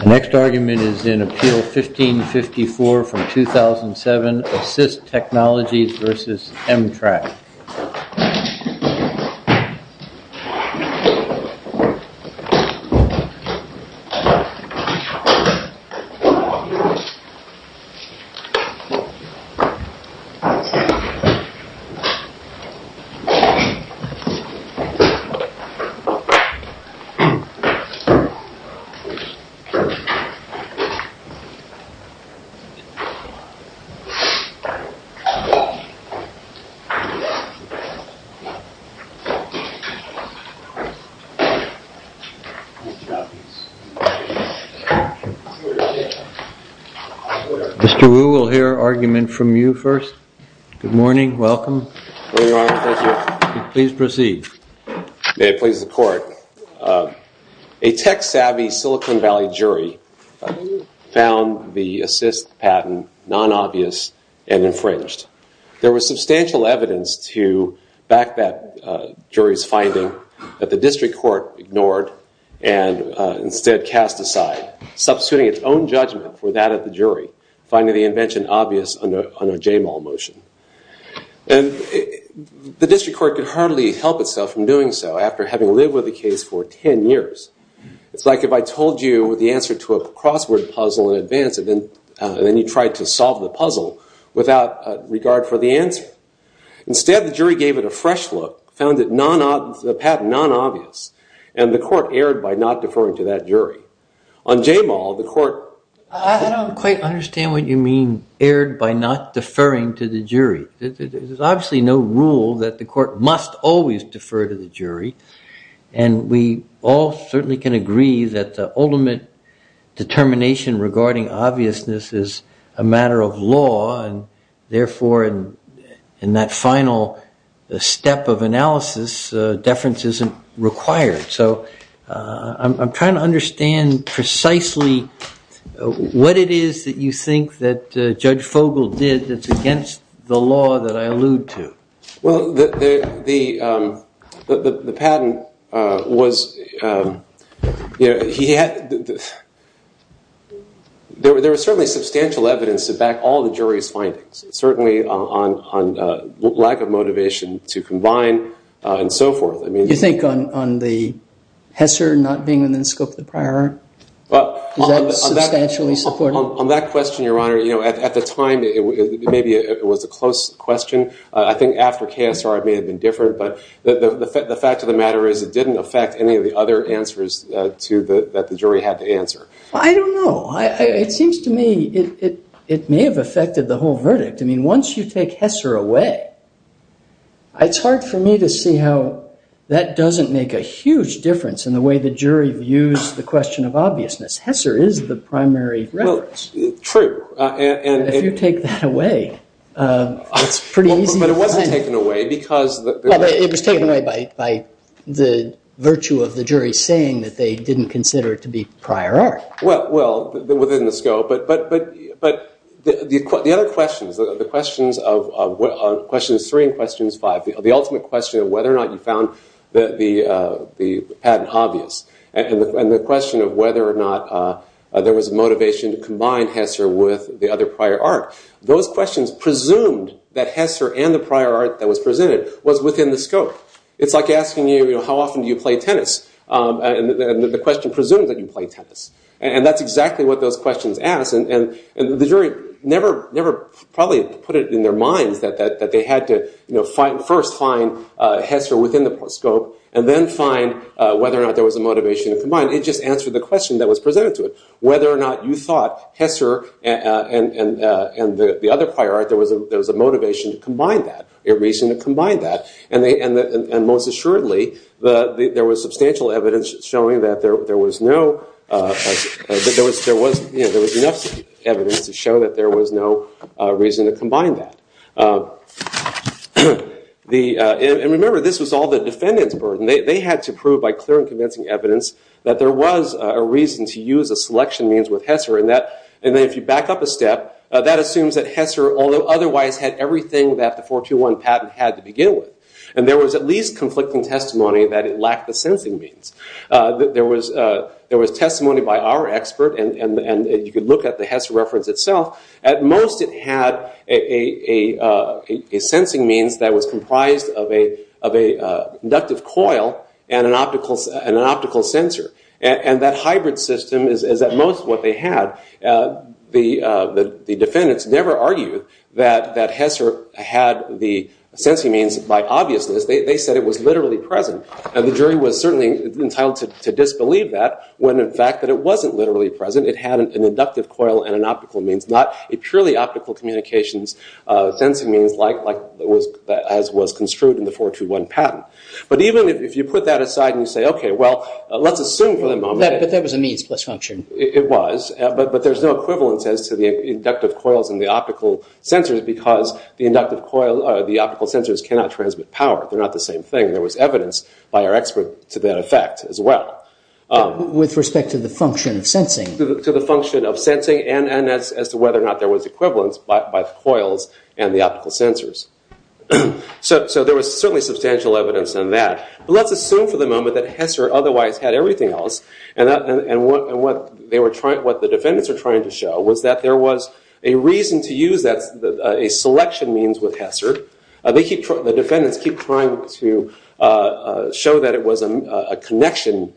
The next argument is in Appeal 1554 from 2007, ASYST Technologies v. Emtrak. Mr. Wu will hear argument from you first. Good morning, welcome. Good morning Your Honor, thank you. Please proceed. May it please the Court. A tech-savvy Silicon Valley jury found the ASYST patent non-obvious and infringed. There was substantial evidence to back that jury's finding that the district court ignored and instead cast aside, substituting its own judgment for that of the jury, finding the invention obvious under a JMAL motion. The district court could hardly help itself from doing so after having lived with the case for 10 years. It's like if I told you the answer to a crossword puzzle in advance and then you tried to solve the puzzle without regard for the answer. Instead, the jury gave it a fresh look, found the patent non-obvious, and the court erred by not deferring to that jury. On JMAL, the court... I don't quite understand what you mean erred by not deferring to the jury. There's obviously no rule that the court must always defer to the jury and we all certainly can agree that the ultimate determination regarding obviousness is a matter of law and therefore in that final step of analysis, deference isn't required. So I'm trying to understand precisely what it is that you think that Judge Fogel did that's against the law that I allude to. Well, the patent was... There was certainly substantial evidence to back all the jury's findings, certainly on lack of motivation to combine and so forth. You think on the Hesser not being in the scope of the prior? Is that substantially supported? On that question, Your Honor, at the time maybe it was a close question. I think after KSR it may have been different, but the fact of the matter is it didn't affect any of the other answers that the jury had to answer. I don't know. It seems to me it may have affected the whole verdict. I mean, once you take Hesser away, it's hard for me to see how that doesn't make a huge difference in the way the jury views the question of obviousness. Hesser is the primary reference. True. If you take that away, it's pretty easy to find... But it wasn't taken away because... It was taken away by the virtue of the jury saying that they didn't consider it to be prior art. Well, within the scope. But the other questions, the questions of questions three and questions five, the ultimate question of whether or not you found the patent obvious, and the question of whether or not there was a motivation to combine Hesser with the other prior art, those questions presumed that Hesser and the prior art that was presented was within the scope. It's like asking you, you know, how often do you play tennis? And the question presumes that you play tennis. And that's exactly what those questions ask. And the jury never probably put it in their minds that they had to first find Hesser within the scope and then find whether or not there was a motivation to combine. It just answered the question that was presented to it, whether or not you thought Hesser and the other prior art, there was a motivation to combine that, a reason to combine that. And most assuredly, there was substantial evidence showing that there was no, there was enough evidence to show that there was no reason to combine that. And remember, this was all the defendant's burden. They had to prove by clear and convincing evidence that there was a reason to use a selection means with Hesser. And if you back up a step, that assumes that Hesser, although otherwise had everything that the 421 patent had to begin with, and there was at least conflicting testimony that it lacked the sensing means. There was testimony by our expert, and you could look at the Hesser reference itself. At most, it had a sensing means that was comprised of an inductive coil and an optical sensor. And that hybrid system is at most what they had. The defendants never argued that Hesser had the sensing means by obviousness. They said it was literally present. The jury was certainly entitled to disbelieve that when in fact it wasn't literally present. It had an inductive coil and an optical means, not a purely optical communications sensing means as was construed in the 421 patent. But even if you put that aside and say, okay, well, let's assume for the moment that But that was a means plus function. It was, but there's no equivalence as to the inductive coils and the optical sensors because the optical sensors cannot transmit power. They're not the same thing. There was evidence by our expert to that effect as well. With respect to the function of sensing? To the function of sensing and as to whether or not there was equivalence by the coils and the optical sensors. So there was certainly substantial evidence in that. But let's assume for the moment that Hesser otherwise had everything else. And what the defendants were trying to show was that there was a reason to use a selection means with Hesser. The defendants keep trying to show that it was a connection,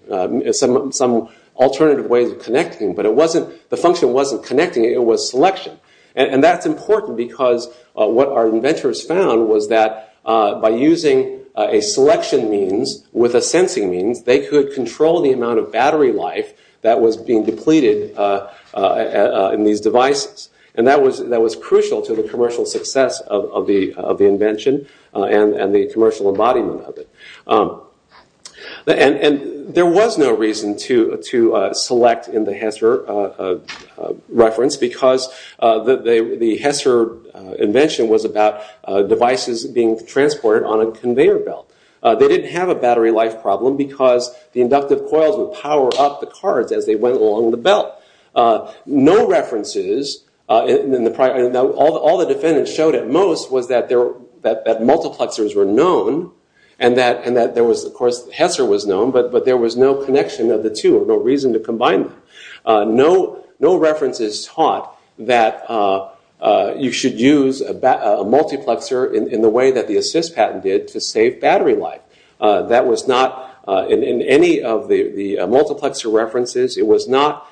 some alternative ways of connecting. But the function wasn't connecting, it was selection. And that's important because what our inventors found was that by using a selection means with a sensing means, they could control the amount of battery life that was being depleted in these devices. And that was crucial to the commercial success of the invention and the commercial embodiment of it. And there was no reason to select in the Hesser reference because the Hesser invention was about devices being transported on a conveyor belt. They didn't have a battery life problem because the inductive coils would power up the cards as they went along the belt. No references, all the defendants showed at most was that multiplexers were known and that Hesser was known, but there was no connection of the two or no reason to combine them. No references taught that you should use a multiplexer in the way that the assist patent did to save battery life. That was not in any of the multiplexer references. It was not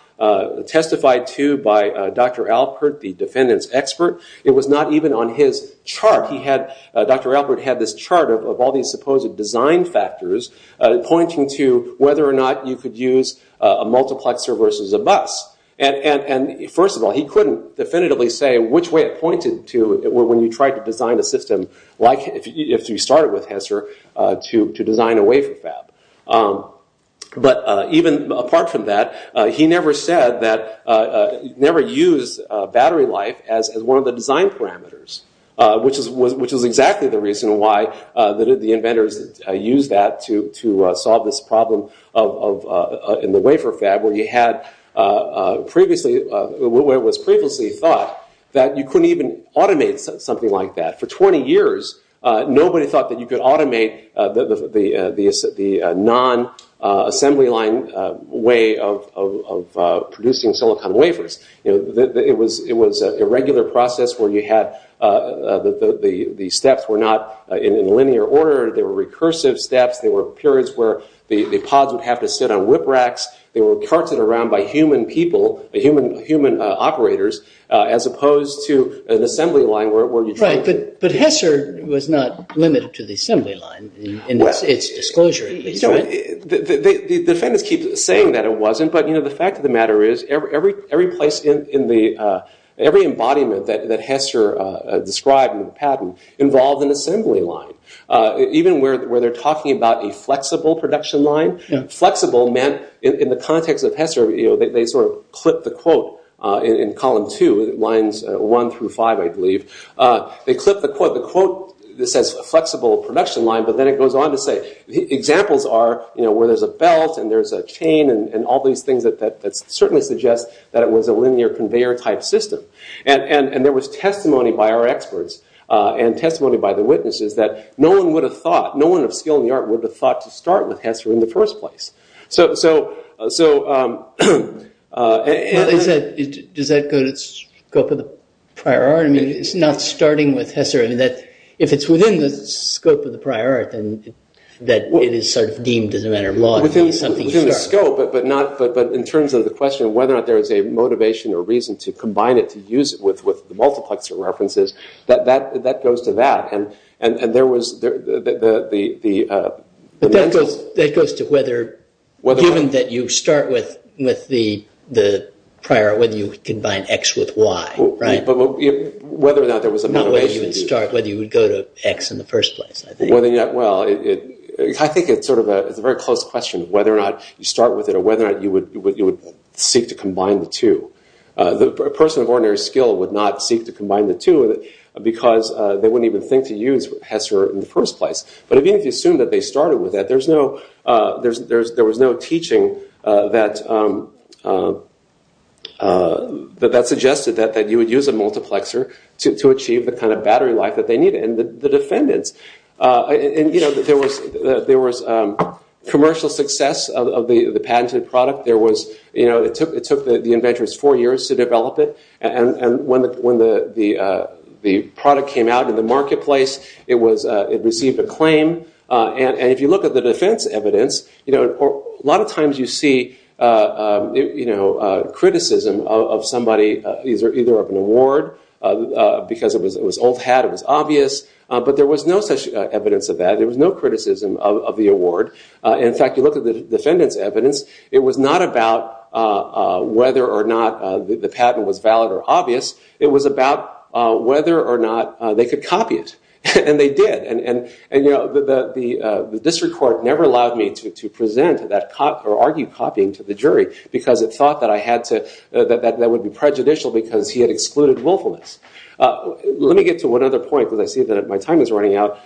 testified to by Dr. Alpert, the defendant's expert. It was not even on his chart. Dr. Alpert had this chart of all these supposed design factors pointing to whether or not you could use a multiplexer versus a bus. And first of all, he couldn't definitively say which way it pointed to when you tried to design a system like if you started with Hesser to design a wafer fab. But even apart from that, he never said that, never used battery life as one of the design parameters, which is exactly the reason why the inventors used that to solve this problem in the wafer fab where it was previously thought that you couldn't even automate something like that. For 20 years, nobody thought that you could automate the non-assembly line way of producing silicon wafers. It was a regular process where the steps were not in linear order. They were recursive steps. There were periods where the pods would have to sit on whip racks. They were carted around by human people, human operators, as opposed to an assembly line where you tried to- Right, but Hesser was not limited to the assembly line in its disclosure, at least, right? The defendants keep saying that it wasn't, but the fact of the matter is every place in the- every embodiment that Hesser described in the patent involved an assembly line. Even where they're talking about a flexible production line, flexible meant in the context of Hesser, they sort of clipped the quote in column two, lines one through five, I believe. They clipped the quote that says flexible production line, but then it goes on to say that examples are where there's a belt and there's a chain and all these things that certainly suggest that it was a linear conveyor type system. There was testimony by our experts and testimony by the witnesses that no one would have thought, no one of skill in the art would have thought to start with Hesser in the first place. Does that go to the scope of the prior art? I mean, it's not starting with Hesser. I mean, if it's within the scope of the prior art, then it is sort of deemed as a matter of law. Within the scope, but in terms of the question of whether or not there is a motivation or reason to combine it, to use it with the multiplexer references, that goes to that. And there was the- But that goes to whether, given that you start with the prior art, whether you combine X with Y, right? Not whether you would start, whether you would go to X in the first place, I think. Well, I think it's sort of a very close question of whether or not you start with it or whether or not you would seek to combine the two. A person of ordinary skill would not seek to combine the two because they wouldn't even think to use Hesser in the first place. But even if you assume that they started with that, there was no teaching that suggested that you would use a multiplexer to achieve the kind of battery life that they needed. And the defendants- There was commercial success of the patented product. It took the inventors four years to develop it. And when the product came out in the marketplace, it received acclaim. And if you look at the defense evidence, a lot of times you see criticism of somebody either of an award because it was old hat, it was obvious. But there was no such evidence of that. There was no criticism of the award. In fact, you look at the defendant's evidence. It was not about whether or not the patent was valid or obvious. It was about whether or not they could copy it. And they did. because it thought that I had to- that that would be prejudicial because he had excluded willfulness. Let me get to one other point because I see that my time is running out.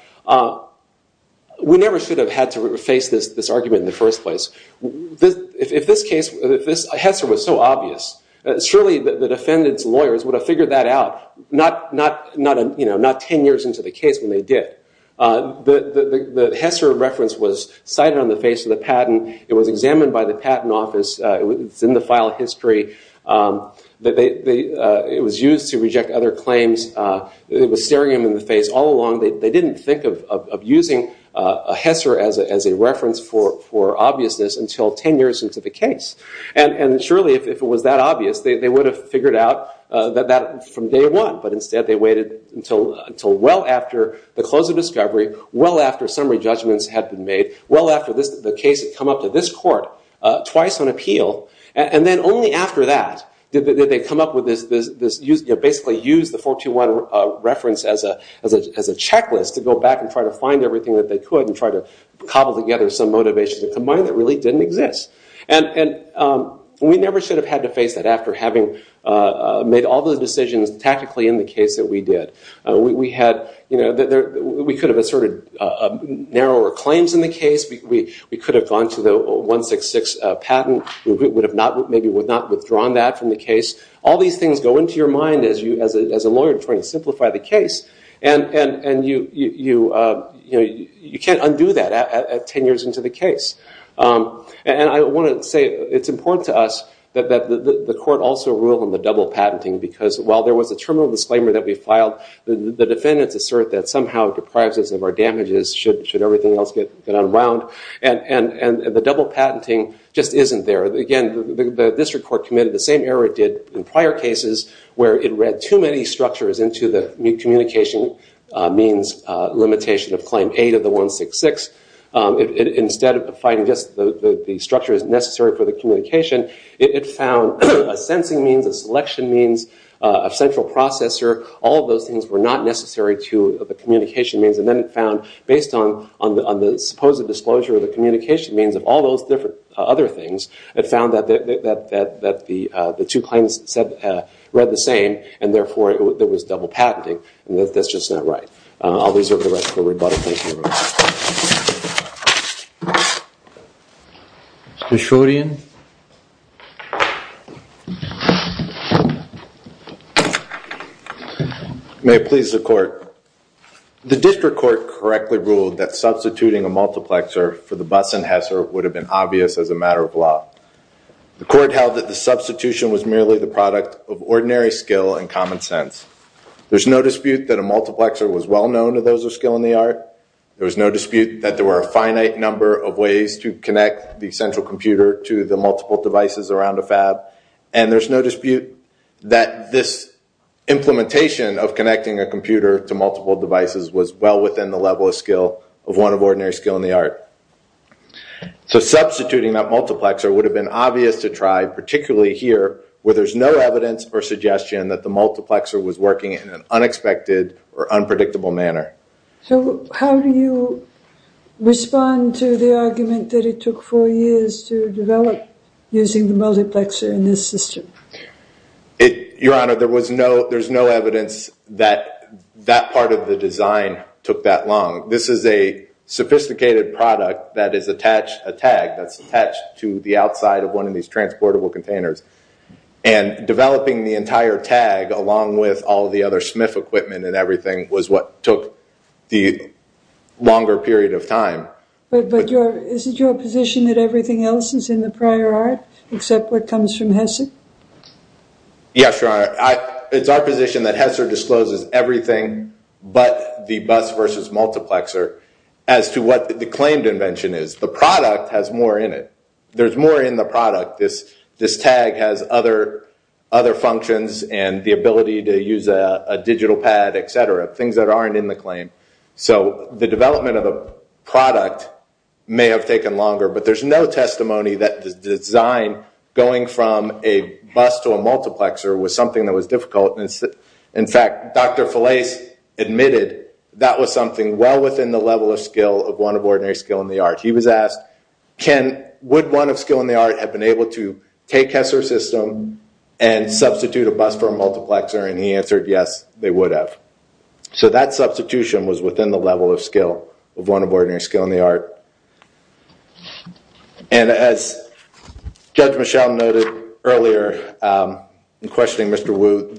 We never should have had to face this argument in the first place. If this Hesser was so obvious, surely the defendant's lawyers would have figured that out not 10 years into the case when they did. The Hesser reference was cited on the face of the patent. It was examined by the patent office. It's in the file history. It was used to reject other claims. It was staring them in the face all along. They didn't think of using a Hesser as a reference for obviousness until 10 years into the case. And surely if it was that obvious, they would have figured out that from day one. But instead they waited until well after the close of discovery, well after summary judgments had been made, well after the case had come up to this court twice on appeal, and then only after that did they come up with this- basically use the 421 reference as a checklist to go back and try to find everything that they could and try to cobble together some motivation to combine that really didn't exist. And we never should have had to face that after having made all the decisions tactically in the case that we did. We could have asserted narrower claims in the case. We could have gone to the 166 patent. We maybe would not have withdrawn that from the case. All these things go into your mind as a lawyer trying to simplify the case. And you can't undo that 10 years into the case. And I want to say it's important to us that the court also ruled on the double patenting because while there was a terminal disclaimer that we filed, the defendants assert that somehow it deprives us of our damages should everything else get unwound. And the double patenting just isn't there. Again, the district court committed the same error it did in prior cases where it read too many structures into the communication means limitation of Claim 8 of the 166. Instead of finding just the structures necessary for the communication, it found a sensing means, a selection means, a central processor, all of those things were not necessary to the communication means. And then it found based on the supposed disclosure of the communication means of all those other things, it found that the two claims read the same and therefore there was double patenting. And that's just not right. I'll reserve the rest for rebuttal. Thank you. Mr. Schroedien. May it please the court. The district court correctly ruled that substituting a multiplexer for the Buss and Hesser would have been obvious as a matter of law. The court held that the substitution was merely the product of ordinary skill and common sense. There's no dispute that a multiplexer was well known to those of skill in the art, there was no dispute that there were a finite number of ways to connect the central computer to the multiple devices around a fab, and there's no dispute that this implementation of connecting a computer to multiple devices was well within the level of skill of one of ordinary skill in the art. So substituting that multiplexer would have been obvious to try, particularly here where there's no evidence or suggestion that the multiplexer was working in an unexpected or unpredictable manner. So how do you respond to the argument that it took four years to develop using the multiplexer in this system? Your Honor, there's no evidence that that part of the design took that long. This is a sophisticated product that is attached, a tag, that's attached to the outside of one of these transportable containers. And developing the entire tag along with all the other Smith equipment and everything was what took the longer period of time. But isn't your position that everything else is in the prior art except what comes from Hesser? Yes, Your Honor. It's our position that Hesser discloses everything but the bus versus multiplexer as to what the claimed invention is. The product has more in it. There's more in the product. This tag has other functions and the ability to use a digital pad, et cetera, things that aren't in the claim. So the development of the product may have taken longer, but there's no testimony that the design going from a bus to a multiplexer was something that was difficult. In fact, Dr. Felais admitted that was something well within the level of skill of one of ordinary skill in the art. He was asked, would one of skill in the art have been able to take Hesser's system and substitute a bus for a multiplexer? And he answered, yes, they would have. So that substitution was within the level of skill of one of ordinary skill in the art. And as Judge Michel noted earlier in questioning Mr. Wu,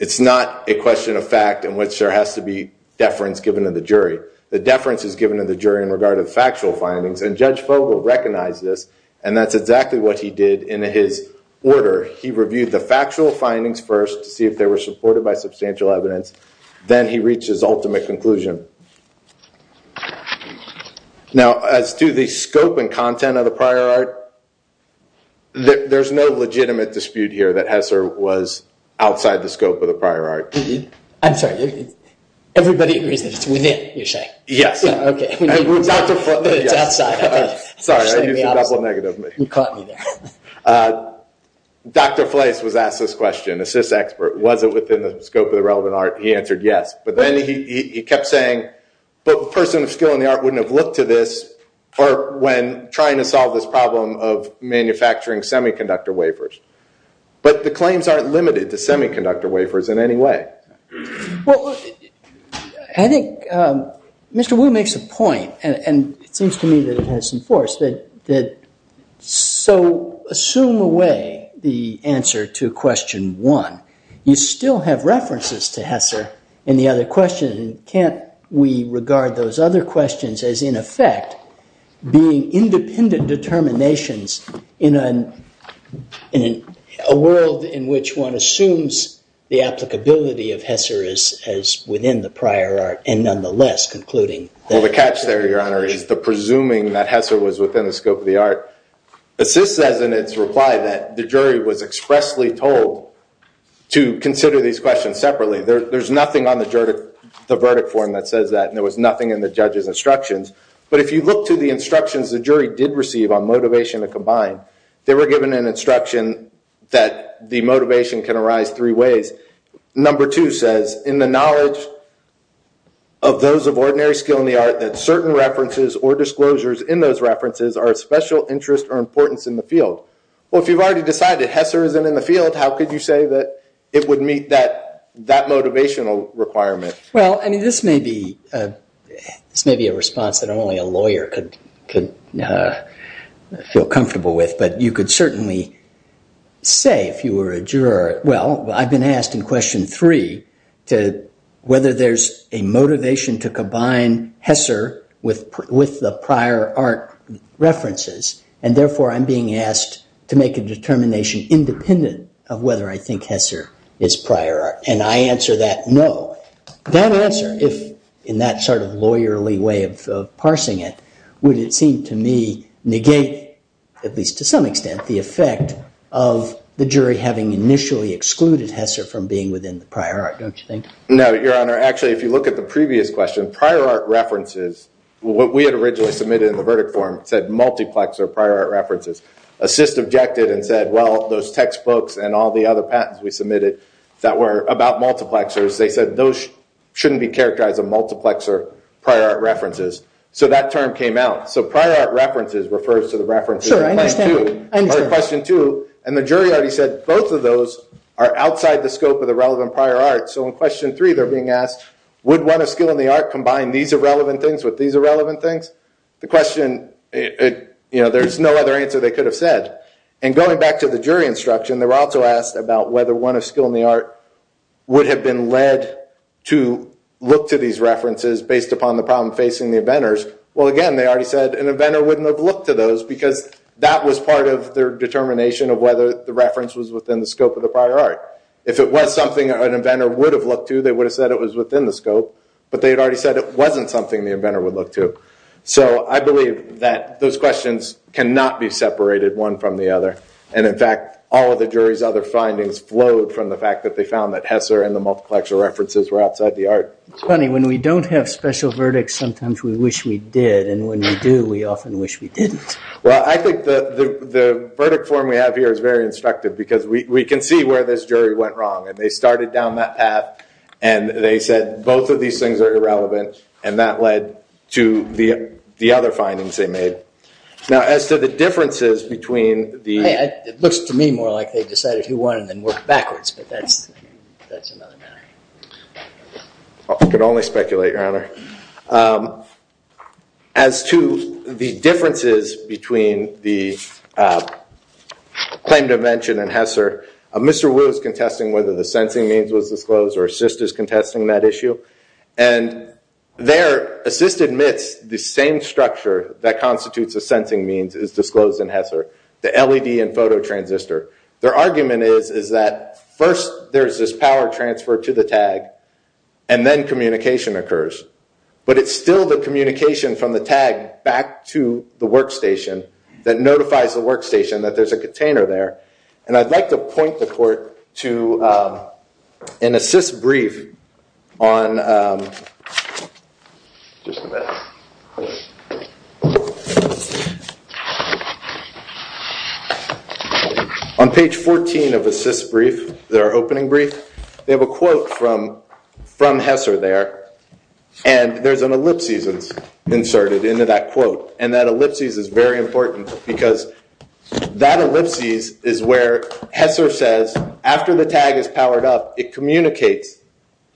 it's not a question of fact in which there has to be deference given to the jury. The deference is given to the jury in regard to the factual findings, and Judge Fogel recognized this, and that's exactly what he did in his order. He reviewed the factual findings first to see if they were supported by substantial evidence. Then he reached his ultimate conclusion. Now, as to the scope and content of the prior art, there's no legitimate dispute here that Hesser was outside the scope of the prior art. I'm sorry, everybody agrees that it's within, you're saying? Yes. Okay. It's outside. Sorry, I used a double negative. You caught me there. Dr. Felais was asked this question, a SIS expert, was it within the scope of the relevant art? He answered yes. But then he kept saying, but the person of skill in the art wouldn't have looked to this when trying to solve this problem of manufacturing semiconductor wafers. But the claims aren't limited to semiconductor wafers in any way. Well, I think Mr. Wu makes a point, and it seems to me that it has some force, that so assume away the answer to question one. You still have references to Hesser in the other question. Can't we regard those other questions as, in effect, being independent determinations in a world in which one assumes the applicability of Hesser as within the prior art and nonetheless concluding that Hesser was within the scope of the art? Well, the catch there, Your Honor, is the presuming that Hesser was within the scope of the art. The SIS says in its reply that the jury was expressly told to consider these questions separately. There's nothing on the verdict form that says that, and there was nothing in the judge's instructions. But if you look to the instructions the jury did receive on motivation to combine, they were given an instruction that the motivation can arise three ways. Number two says, in the knowledge of those of ordinary skill in the art, that certain references or disclosures in those references are of special interest or importance in the field. Well, if you've already decided Hesser isn't in the field, how could you say that it would meet that motivational requirement? Well, I mean, this may be a response that only a lawyer could feel comfortable with, but you could certainly say, if you were a juror, well, I've been asked in question three whether there's a motivation to combine Hesser with the prior art references, and therefore I'm being asked to make a determination independent of whether I think Hesser is prior art. And I answer that no. That answer, if in that sort of lawyerly way of parsing it, would it seem to me negate, at least to some extent, the effect of the jury having initially excluded Hesser from being within the prior art, don't you think? No, Your Honor. Actually, if you look at the previous question, prior art references, what we had originally submitted in the verdict form said multiplexer prior art references. Assist objected and said, well, those textbooks and all the other patents we submitted that were about multiplexers, they said those shouldn't be characterized as multiplexer prior art references. So that term came out. So prior art references refers to the references in question two. I understand. And the jury already said both of those are outside the scope of the relevant prior art. So in question three they're being asked, would one of skill and the art combine these irrelevant things with these irrelevant things? The question, you know, there's no other answer they could have said. And going back to the jury instruction, they were also asked about whether one of skill and the art would have been led to look to these references based upon the problem facing the inventors. Well, again, they already said an inventor wouldn't have looked to those because that was part of their determination of whether the reference was within the scope of the prior art. If it was something an inventor would have looked to, they would have said it was within the scope. But they had already said it wasn't something the inventor would look to. So I believe that those questions cannot be separated one from the other. And, in fact, all of the jury's other findings flowed from the fact that they found that Hesser and the multiplexer references were outside the art. It's funny. When we don't have special verdicts, sometimes we wish we did. And when we do, we often wish we didn't. Well, I think the verdict form we have here is very instructive because we can see where this jury went wrong. And they started down that path. And they said both of these things are irrelevant. And that led to the other findings they made. Now, as to the differences between the- It looks to me more like they decided who won and then worked backwards. I could only speculate, Your Honor. As to the differences between the claim to invention and Hesser, Mr. Wu is contesting whether the sensing means was disclosed or Assist is contesting that issue. And there, Assist admits the same structure that constitutes a sensing means is disclosed in Hesser, the LED and photo transistor. Their argument is that first there's this power transfer to the tag and then communication occurs. But it's still the communication from the tag back to the workstation that notifies the workstation that there's a container there. And I'd like to point the court to an Assist brief on- Just a minute. On page 14 of Assist brief, their opening brief, they have a quote from Hesser there. And there's an ellipsis inserted into that quote. And that ellipsis is very important because that ellipsis is where Hesser says, after the tag is powered up, it communicates,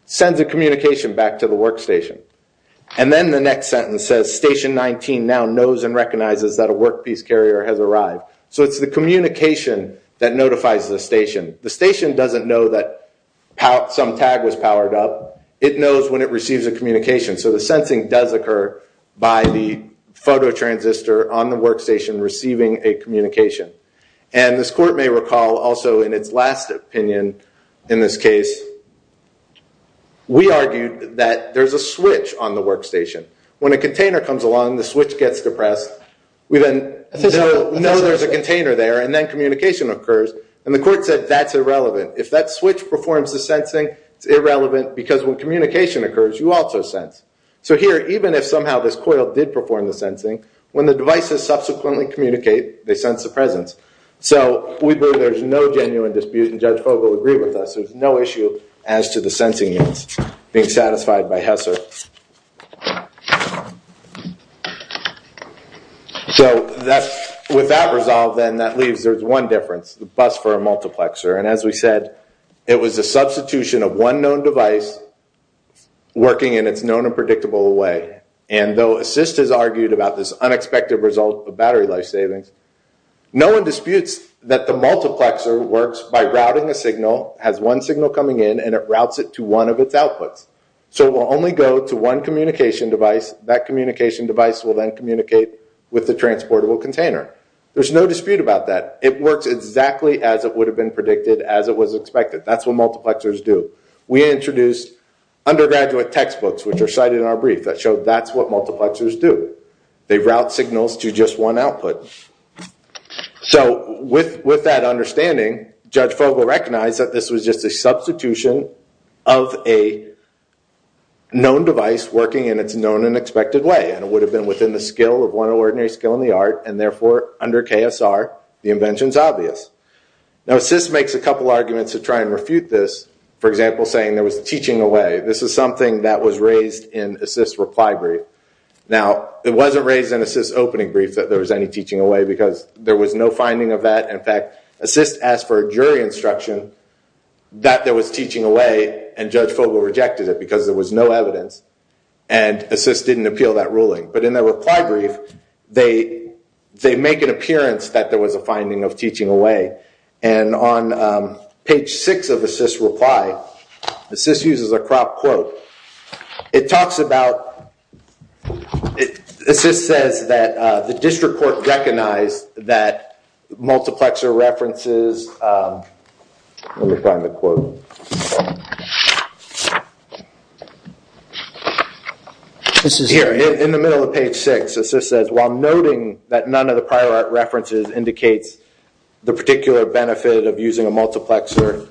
sends a communication back to the workstation. And then the next sentence says, Station 19 now knows and recognizes that a workpiece carrier has arrived. So it's the communication that notifies the station. The station doesn't know that some tag was powered up. It knows when it receives a communication. So the sensing does occur by the photo transistor on the workstation receiving a communication. And this court may recall also in its last opinion in this case, we argued that there's a switch on the workstation. When a container comes along, the switch gets depressed. We then know there's a container there, and then communication occurs. And the court said that's irrelevant. If that switch performs the sensing, it's irrelevant because when communication occurs, you also sense. So here, even if somehow this coil did perform the sensing, when the devices subsequently communicate, they sense the presence. So we believe there's no genuine dispute, and Judge Fogle agreed with us. There's no issue as to the sensing being satisfied by Hesser. So with that resolved then, that leaves there's one difference, the bus for a multiplexer. And as we said, it was a substitution of one known device working in its known and predictable way. And though assist has argued about this unexpected result of battery life savings, no one disputes that the multiplexer works by routing a signal, has one signal coming in, and it routes it to one of its outputs. So it will only go to one communication device. That communication device will then communicate with the transportable container. There's no dispute about that. It works exactly as it would have been predicted, as it was expected. That's what multiplexers do. We introduced undergraduate textbooks, which are cited in our brief, that show that's what multiplexers do. They route signals to just one output. So with that understanding, Judge Fogle recognized that this was just a substitution of a known device working in its known and expected way. And it would have been within the skill of one ordinary skill in the art, and therefore, under KSR, the invention's obvious. Now assist makes a couple arguments to try and refute this. For example, saying there was teaching away. This is something that was raised in assist's reply brief. Now, it wasn't raised in assist's opening brief that there was any teaching away, because there was no finding of that. In fact, assist asked for a jury instruction that there was teaching away, and Judge Fogle rejected it because there was no evidence. And assist didn't appeal that ruling. But in their reply brief, they make an appearance that there was a finding of teaching away. And on page six of assist's reply, assist uses a crop quote. It talks about, assist says that the district court recognized that multiplexer references, let me find the quote. Here, in the middle of page six, assist says, while noting that none of the prior art references indicates the particular benefit of using a multiplexer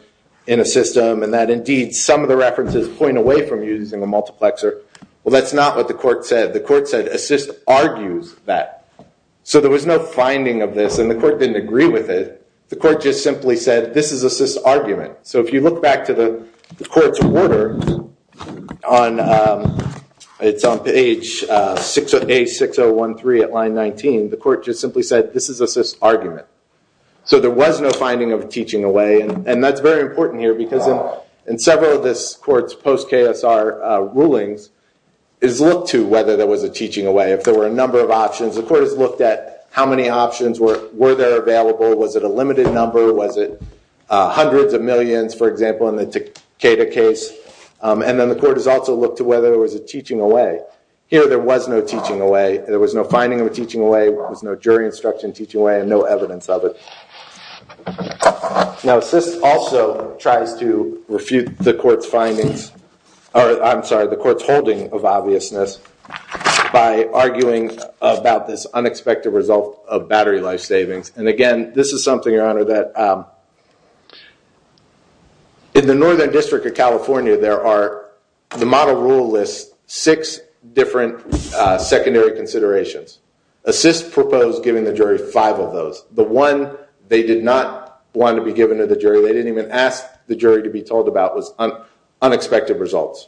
in a system, and that, indeed, some of the references point away from using a multiplexer, well, that's not what the court said. The court said assist argues that. So there was no finding of this, and the court didn't agree with it. The court just simply said, this is assist's argument. So if you look back to the court's order, it's on page A6013 at line 19. The court just simply said, this is assist's argument. So there was no finding of teaching away. And that's very important here, because in several of this court's post-KSR rulings, it's looked to whether there was a teaching away, if there were a number of options. The court has looked at how many options were there available. Was it a limited number? Was it hundreds of millions, for example, in the Takeda case? And then the court has also looked to whether there was a teaching away. Here, there was no teaching away. There was no finding of a teaching away. There was no jury instruction teaching away, and no evidence of it. Now, assist also tries to refute the court's findings, or I'm sorry, the court's holding of obviousness, by arguing about this unexpected result of battery life savings. And again, this is something, Your Honor, that in the Northern District of California, there are, the model rule lists six different secondary considerations. Assist proposed giving the jury five of those. The one they did not want to be given to the jury, they didn't even ask the jury to be told about, was unexpected results.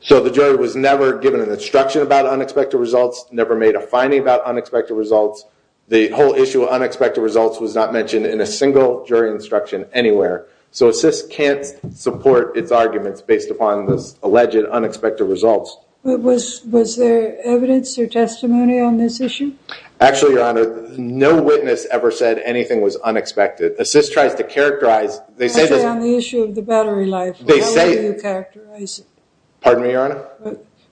So the jury was never given an instruction about unexpected results, never made a finding about unexpected results. The whole issue of unexpected results was not mentioned in a single jury instruction anywhere. So assist can't support its arguments based upon this alleged unexpected results. Was there evidence or testimony on this issue? Actually, Your Honor, no witness ever said anything was unexpected. Assist tries to characterize, they say- I said on the issue of the battery life. They say- What way do you characterize it? Pardon me, Your Honor?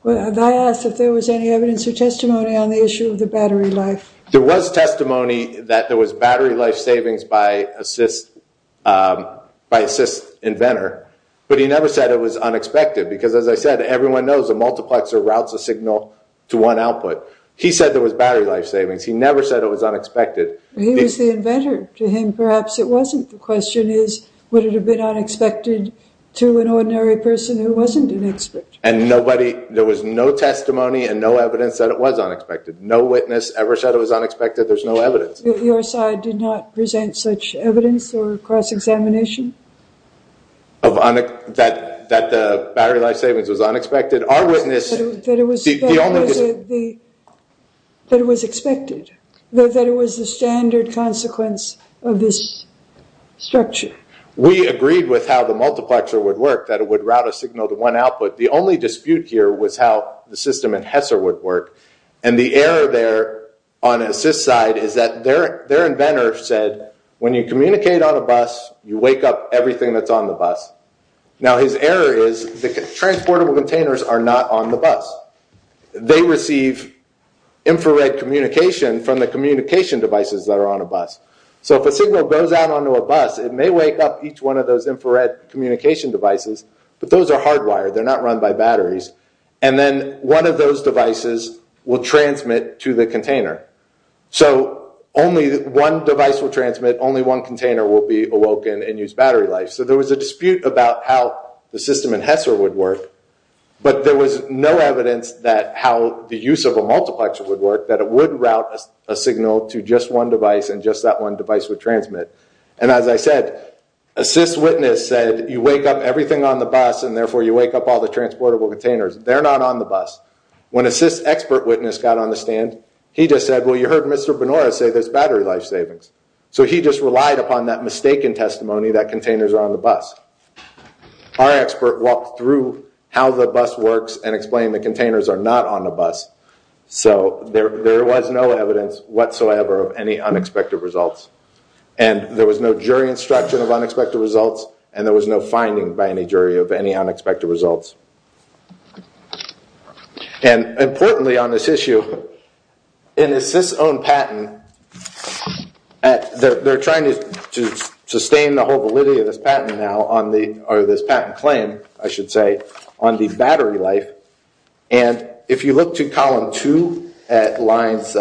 Have I asked if there was any evidence or testimony on the issue of the battery life? There was testimony that there was battery life savings by assist inventor, but he never said it was unexpected, because as I said, everyone knows a multiplexer routes a signal to one output. He said there was battery life savings. He never said it was unexpected. He was the inventor. To him, perhaps it wasn't. The question is, would it have been unexpected to an ordinary person who wasn't an expert? And nobody, there was no testimony and no evidence that it was unexpected. No witness ever said it was unexpected. There's no evidence. Your side did not present such evidence or cross-examination? That the battery life savings was unexpected. That it was expected, that it was the standard consequence of this structure. We agreed with how the multiplexer would work, that it would route a signal to one output. The only dispute here was how the system in HESR would work, and the error there on the assist side is that their inventor said, when you communicate on a bus, you wake up everything that's on the bus. Now his error is, the transportable containers are not on the bus. They receive infrared communication from the communication devices that are on a bus. So if a signal goes out onto a bus, it may wake up each one of those infrared communication devices, but those are hardwired, they're not run by batteries. And then one of those devices will transmit to the container. So only one device will transmit, only one container will be awoken and use battery life. So there was a dispute about how the system in HESR would work, but there was no evidence that how the use of a multiplexer would work, that it would route a signal to just one device and just that one device would transmit. And as I said, assist witness said, you wake up everything on the bus, and therefore you wake up all the transportable containers. They're not on the bus. When assist expert witness got on the stand, he just said, well you heard Mr. Benora say there's battery life savings. So he just relied upon that mistaken testimony that containers are on the bus. Our expert walked through how the bus works and explained the containers are not on the bus, so there was no evidence whatsoever of any unexpected results. And there was no jury instruction of unexpected results, and there was no finding by any jury of any unexpected results. And importantly on this issue, in assist's own patent, they're trying to sustain the whole validity of this patent now, or this patent claim I should say, on the battery life. And if you look to column two at lines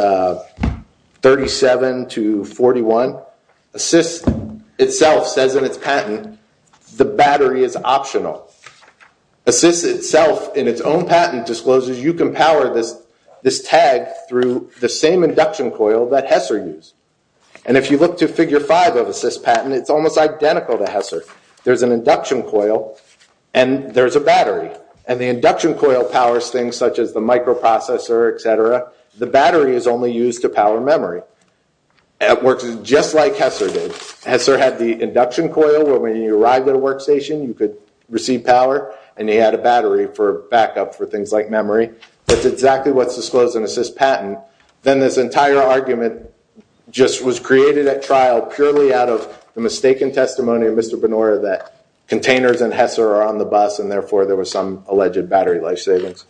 37 to 41, assist itself says in its patent, the battery is optional. Assist itself in its own patent discloses you can power this tag through the same induction coil that HESR used. And if you look to figure five of assist's patent, it's almost identical to HESR. There's an induction coil, and there's a battery. And the induction coil powers things such as the microprocessor, et cetera. The battery is only used to power memory. It works just like HESR did. HESR had the induction coil where when you arrived at a workstation, you could receive power, and you had a battery for backup for things like memory. That's exactly what's disclosed in assist's patent. Then this entire argument just was created at trial purely out of the mistaken testimony of Mr. Benora that containers and HESR are on the bus, and therefore there was some alleged battery life savings.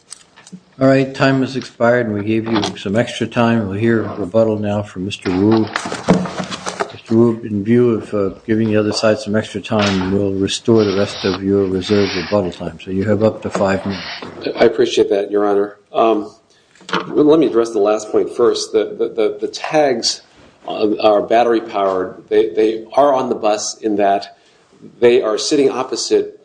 All right, time has expired, and we gave you some extra time. We'll hear a rebuttal now from Mr. Wu. Mr. Wu, in view of giving the other side some extra time, we'll restore the rest of your reserved rebuttal time. So you have up to five minutes. I appreciate that, Your Honor. Let me address the last point first. The tags are battery power. They are on the bus in that they are sitting opposite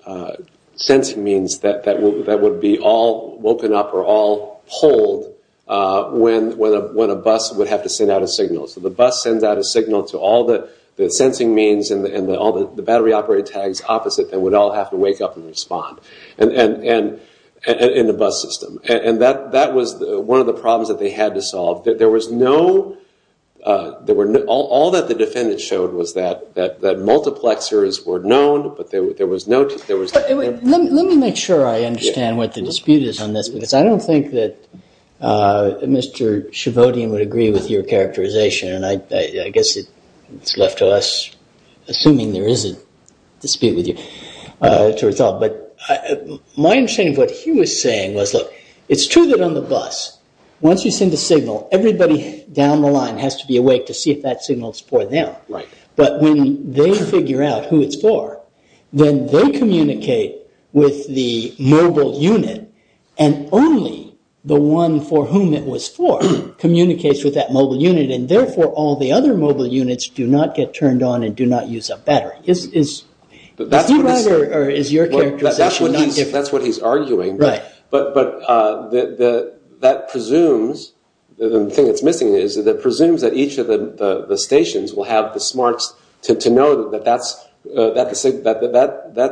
sensing means that would be all woken up or all pulled when a bus would have to send out a signal. So the bus sends out a signal to all the sensing means and all the battery operator tags opposite that would all have to wake up and respond in the bus system. And that was one of the problems that they had to solve. There was no – all that the defendant showed was that multiplexers were known, but there was no – Let me make sure I understand what the dispute is on this, because I don't think that Mr. Shavodian would agree with your characterization. And I guess it's left to us, assuming there is a dispute with you, to resolve. But my understanding of what he was saying was, look, it's true that on the bus, once you send a signal, everybody down the line has to be awake to see if that signal is for them. But when they figure out who it's for, then they communicate with the mobile unit and only the one for whom it was for communicates with that mobile unit and therefore all the other mobile units do not get turned on and do not use a battery. Is he right or is your characterization not different? That's what he's arguing. Right. But that presumes – the thing that's missing is that it presumes that each of the stations will have the smarts to know that that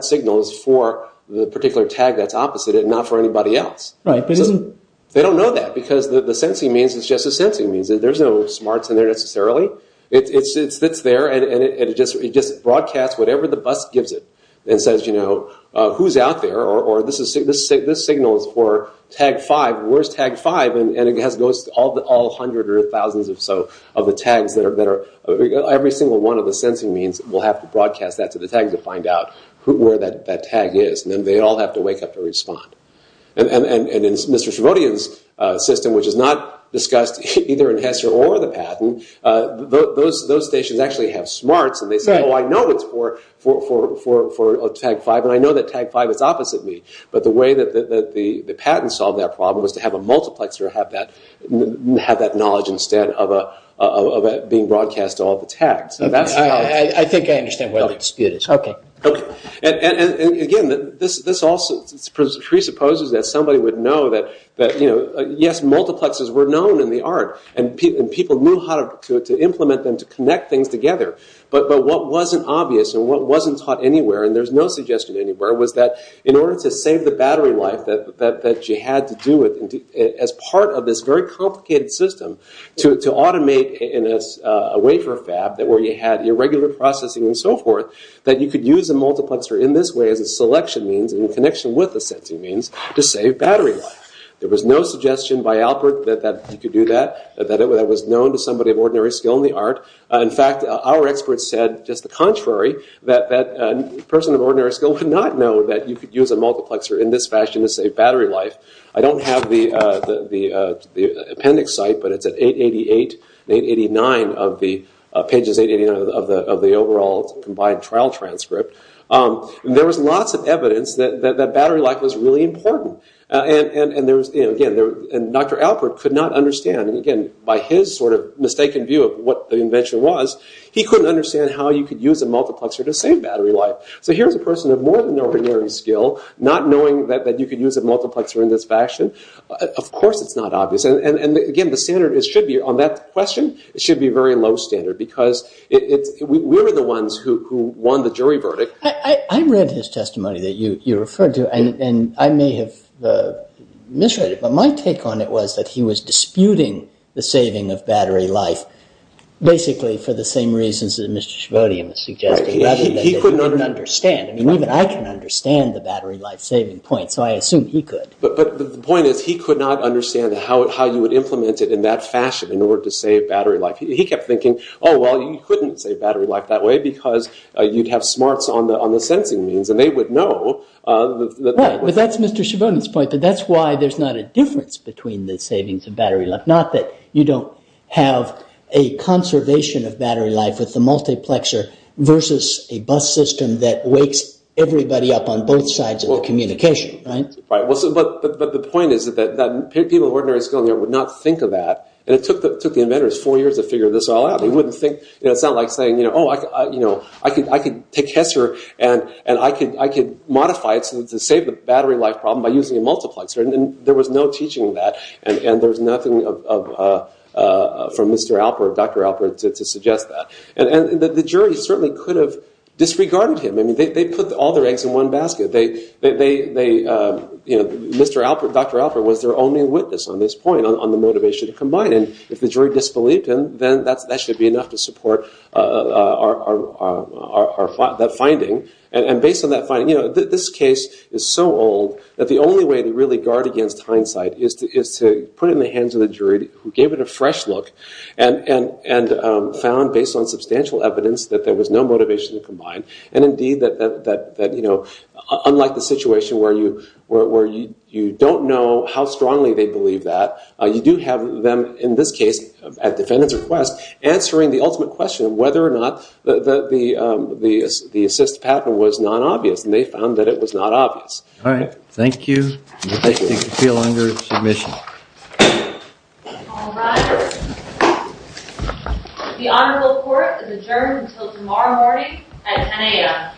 signal is for the particular tag that's opposite it, not for anybody else. Right. They don't know that because the sensing means it's just a sensing means. There's no smarts in there necessarily. It sits there and it just broadcasts whatever the bus gives it and says, you know, who's out there or this signal is for tag five. Where's tag five? And it goes to all hundreds or thousands or so of the tags that are – every single one of the sensing means will have to broadcast that to the tag to find out where that tag is. And then they all have to wake up to respond. And in Mr. Shavodian's system, which is not discussed either in HESR or the patent, those stations actually have smarts and they say, oh, I know it's for tag five and I know that tag five is opposite me. But the way that the patent solved that problem was to have a multiplexer have that knowledge instead of it being broadcast to all the tags. I think I understand where the dispute is. Okay. Okay. And, again, this also presupposes that somebody would know that, you know, yes, multiplexers were known in the art and people knew how to implement them to connect things together. But what wasn't obvious and what wasn't taught anywhere, and there's no suggestion anywhere, was that in order to save the battery life, that you had to do it as part of this very complicated system to automate in a wafer fab where you had irregular processing and so forth, that you could use a multiplexer in this way as a selection means in connection with the sensing means to save battery life. There was no suggestion by Alpert that you could do that, that it was known to somebody of ordinary skill in the art. In fact, our experts said just the contrary, that a person of ordinary skill could not know that you could use a multiplexer in this fashion to save battery life. I don't have the appendix site, but it's at 888 and 889 of the overall combined trial transcript. There was lots of evidence that battery life was really important. And, again, Dr. Alpert could not understand, and, again, by his sort of mistaken view of what the invention was, he couldn't understand how you could use a multiplexer to save battery life. So here's a person of more than ordinary skill, not knowing that you could use a multiplexer in this fashion. Of course it's not obvious. And, again, the standard on that question should be very low standard because we were the ones who won the jury verdict. I read his testimony that you referred to, and I may have misread it, but my take on it was that he was disputing the saving of battery life basically for the same reasons that Mr. Shavodian was suggesting, rather than that he didn't understand. I mean, even I can understand the battery life saving point, so I assume he could. But the point is he could not understand how you would implement it in that fashion in order to save battery life. He kept thinking, oh, well, you couldn't save battery life that way because you'd have smarts on the sensing means, and they would know. Well, that's Mr. Shavodian's point, but that's why there's not a difference between the savings and battery life, not that you don't have a conservation of battery life with the multiplexer versus a bus system that wakes everybody up on both sides of the communication. But the point is that people of ordinary skill would not think of that, and it took the inventors four years to figure this all out. It's not like saying, oh, I could take HESSER and I could modify it to save the battery life problem by using a multiplexer. There was no teaching of that, and there's nothing from Dr. Alpert to suggest that. And the jury certainly could have disregarded him. I mean, they put all their eggs in one basket. Dr. Alpert was their only witness on this point on the motivation to combine, and if the jury disbelieved him, then that should be enough to support that finding. And based on that finding, this case is so old that the only way to really guard against hindsight is to put it in the hands of the jury who gave it a fresh look and found, based on substantial evidence, that there was no motivation to combine. And indeed, unlike the situation where you don't know how strongly they believe that, you do have them, in this case, at defendant's request, answering the ultimate question of whether or not the assist patent was non-obvious, and they found that it was not obvious. All right. Thank you. You may feel under submission. All rise. The Honorable Court is adjourned until tomorrow morning at 10 a.m. Thank you.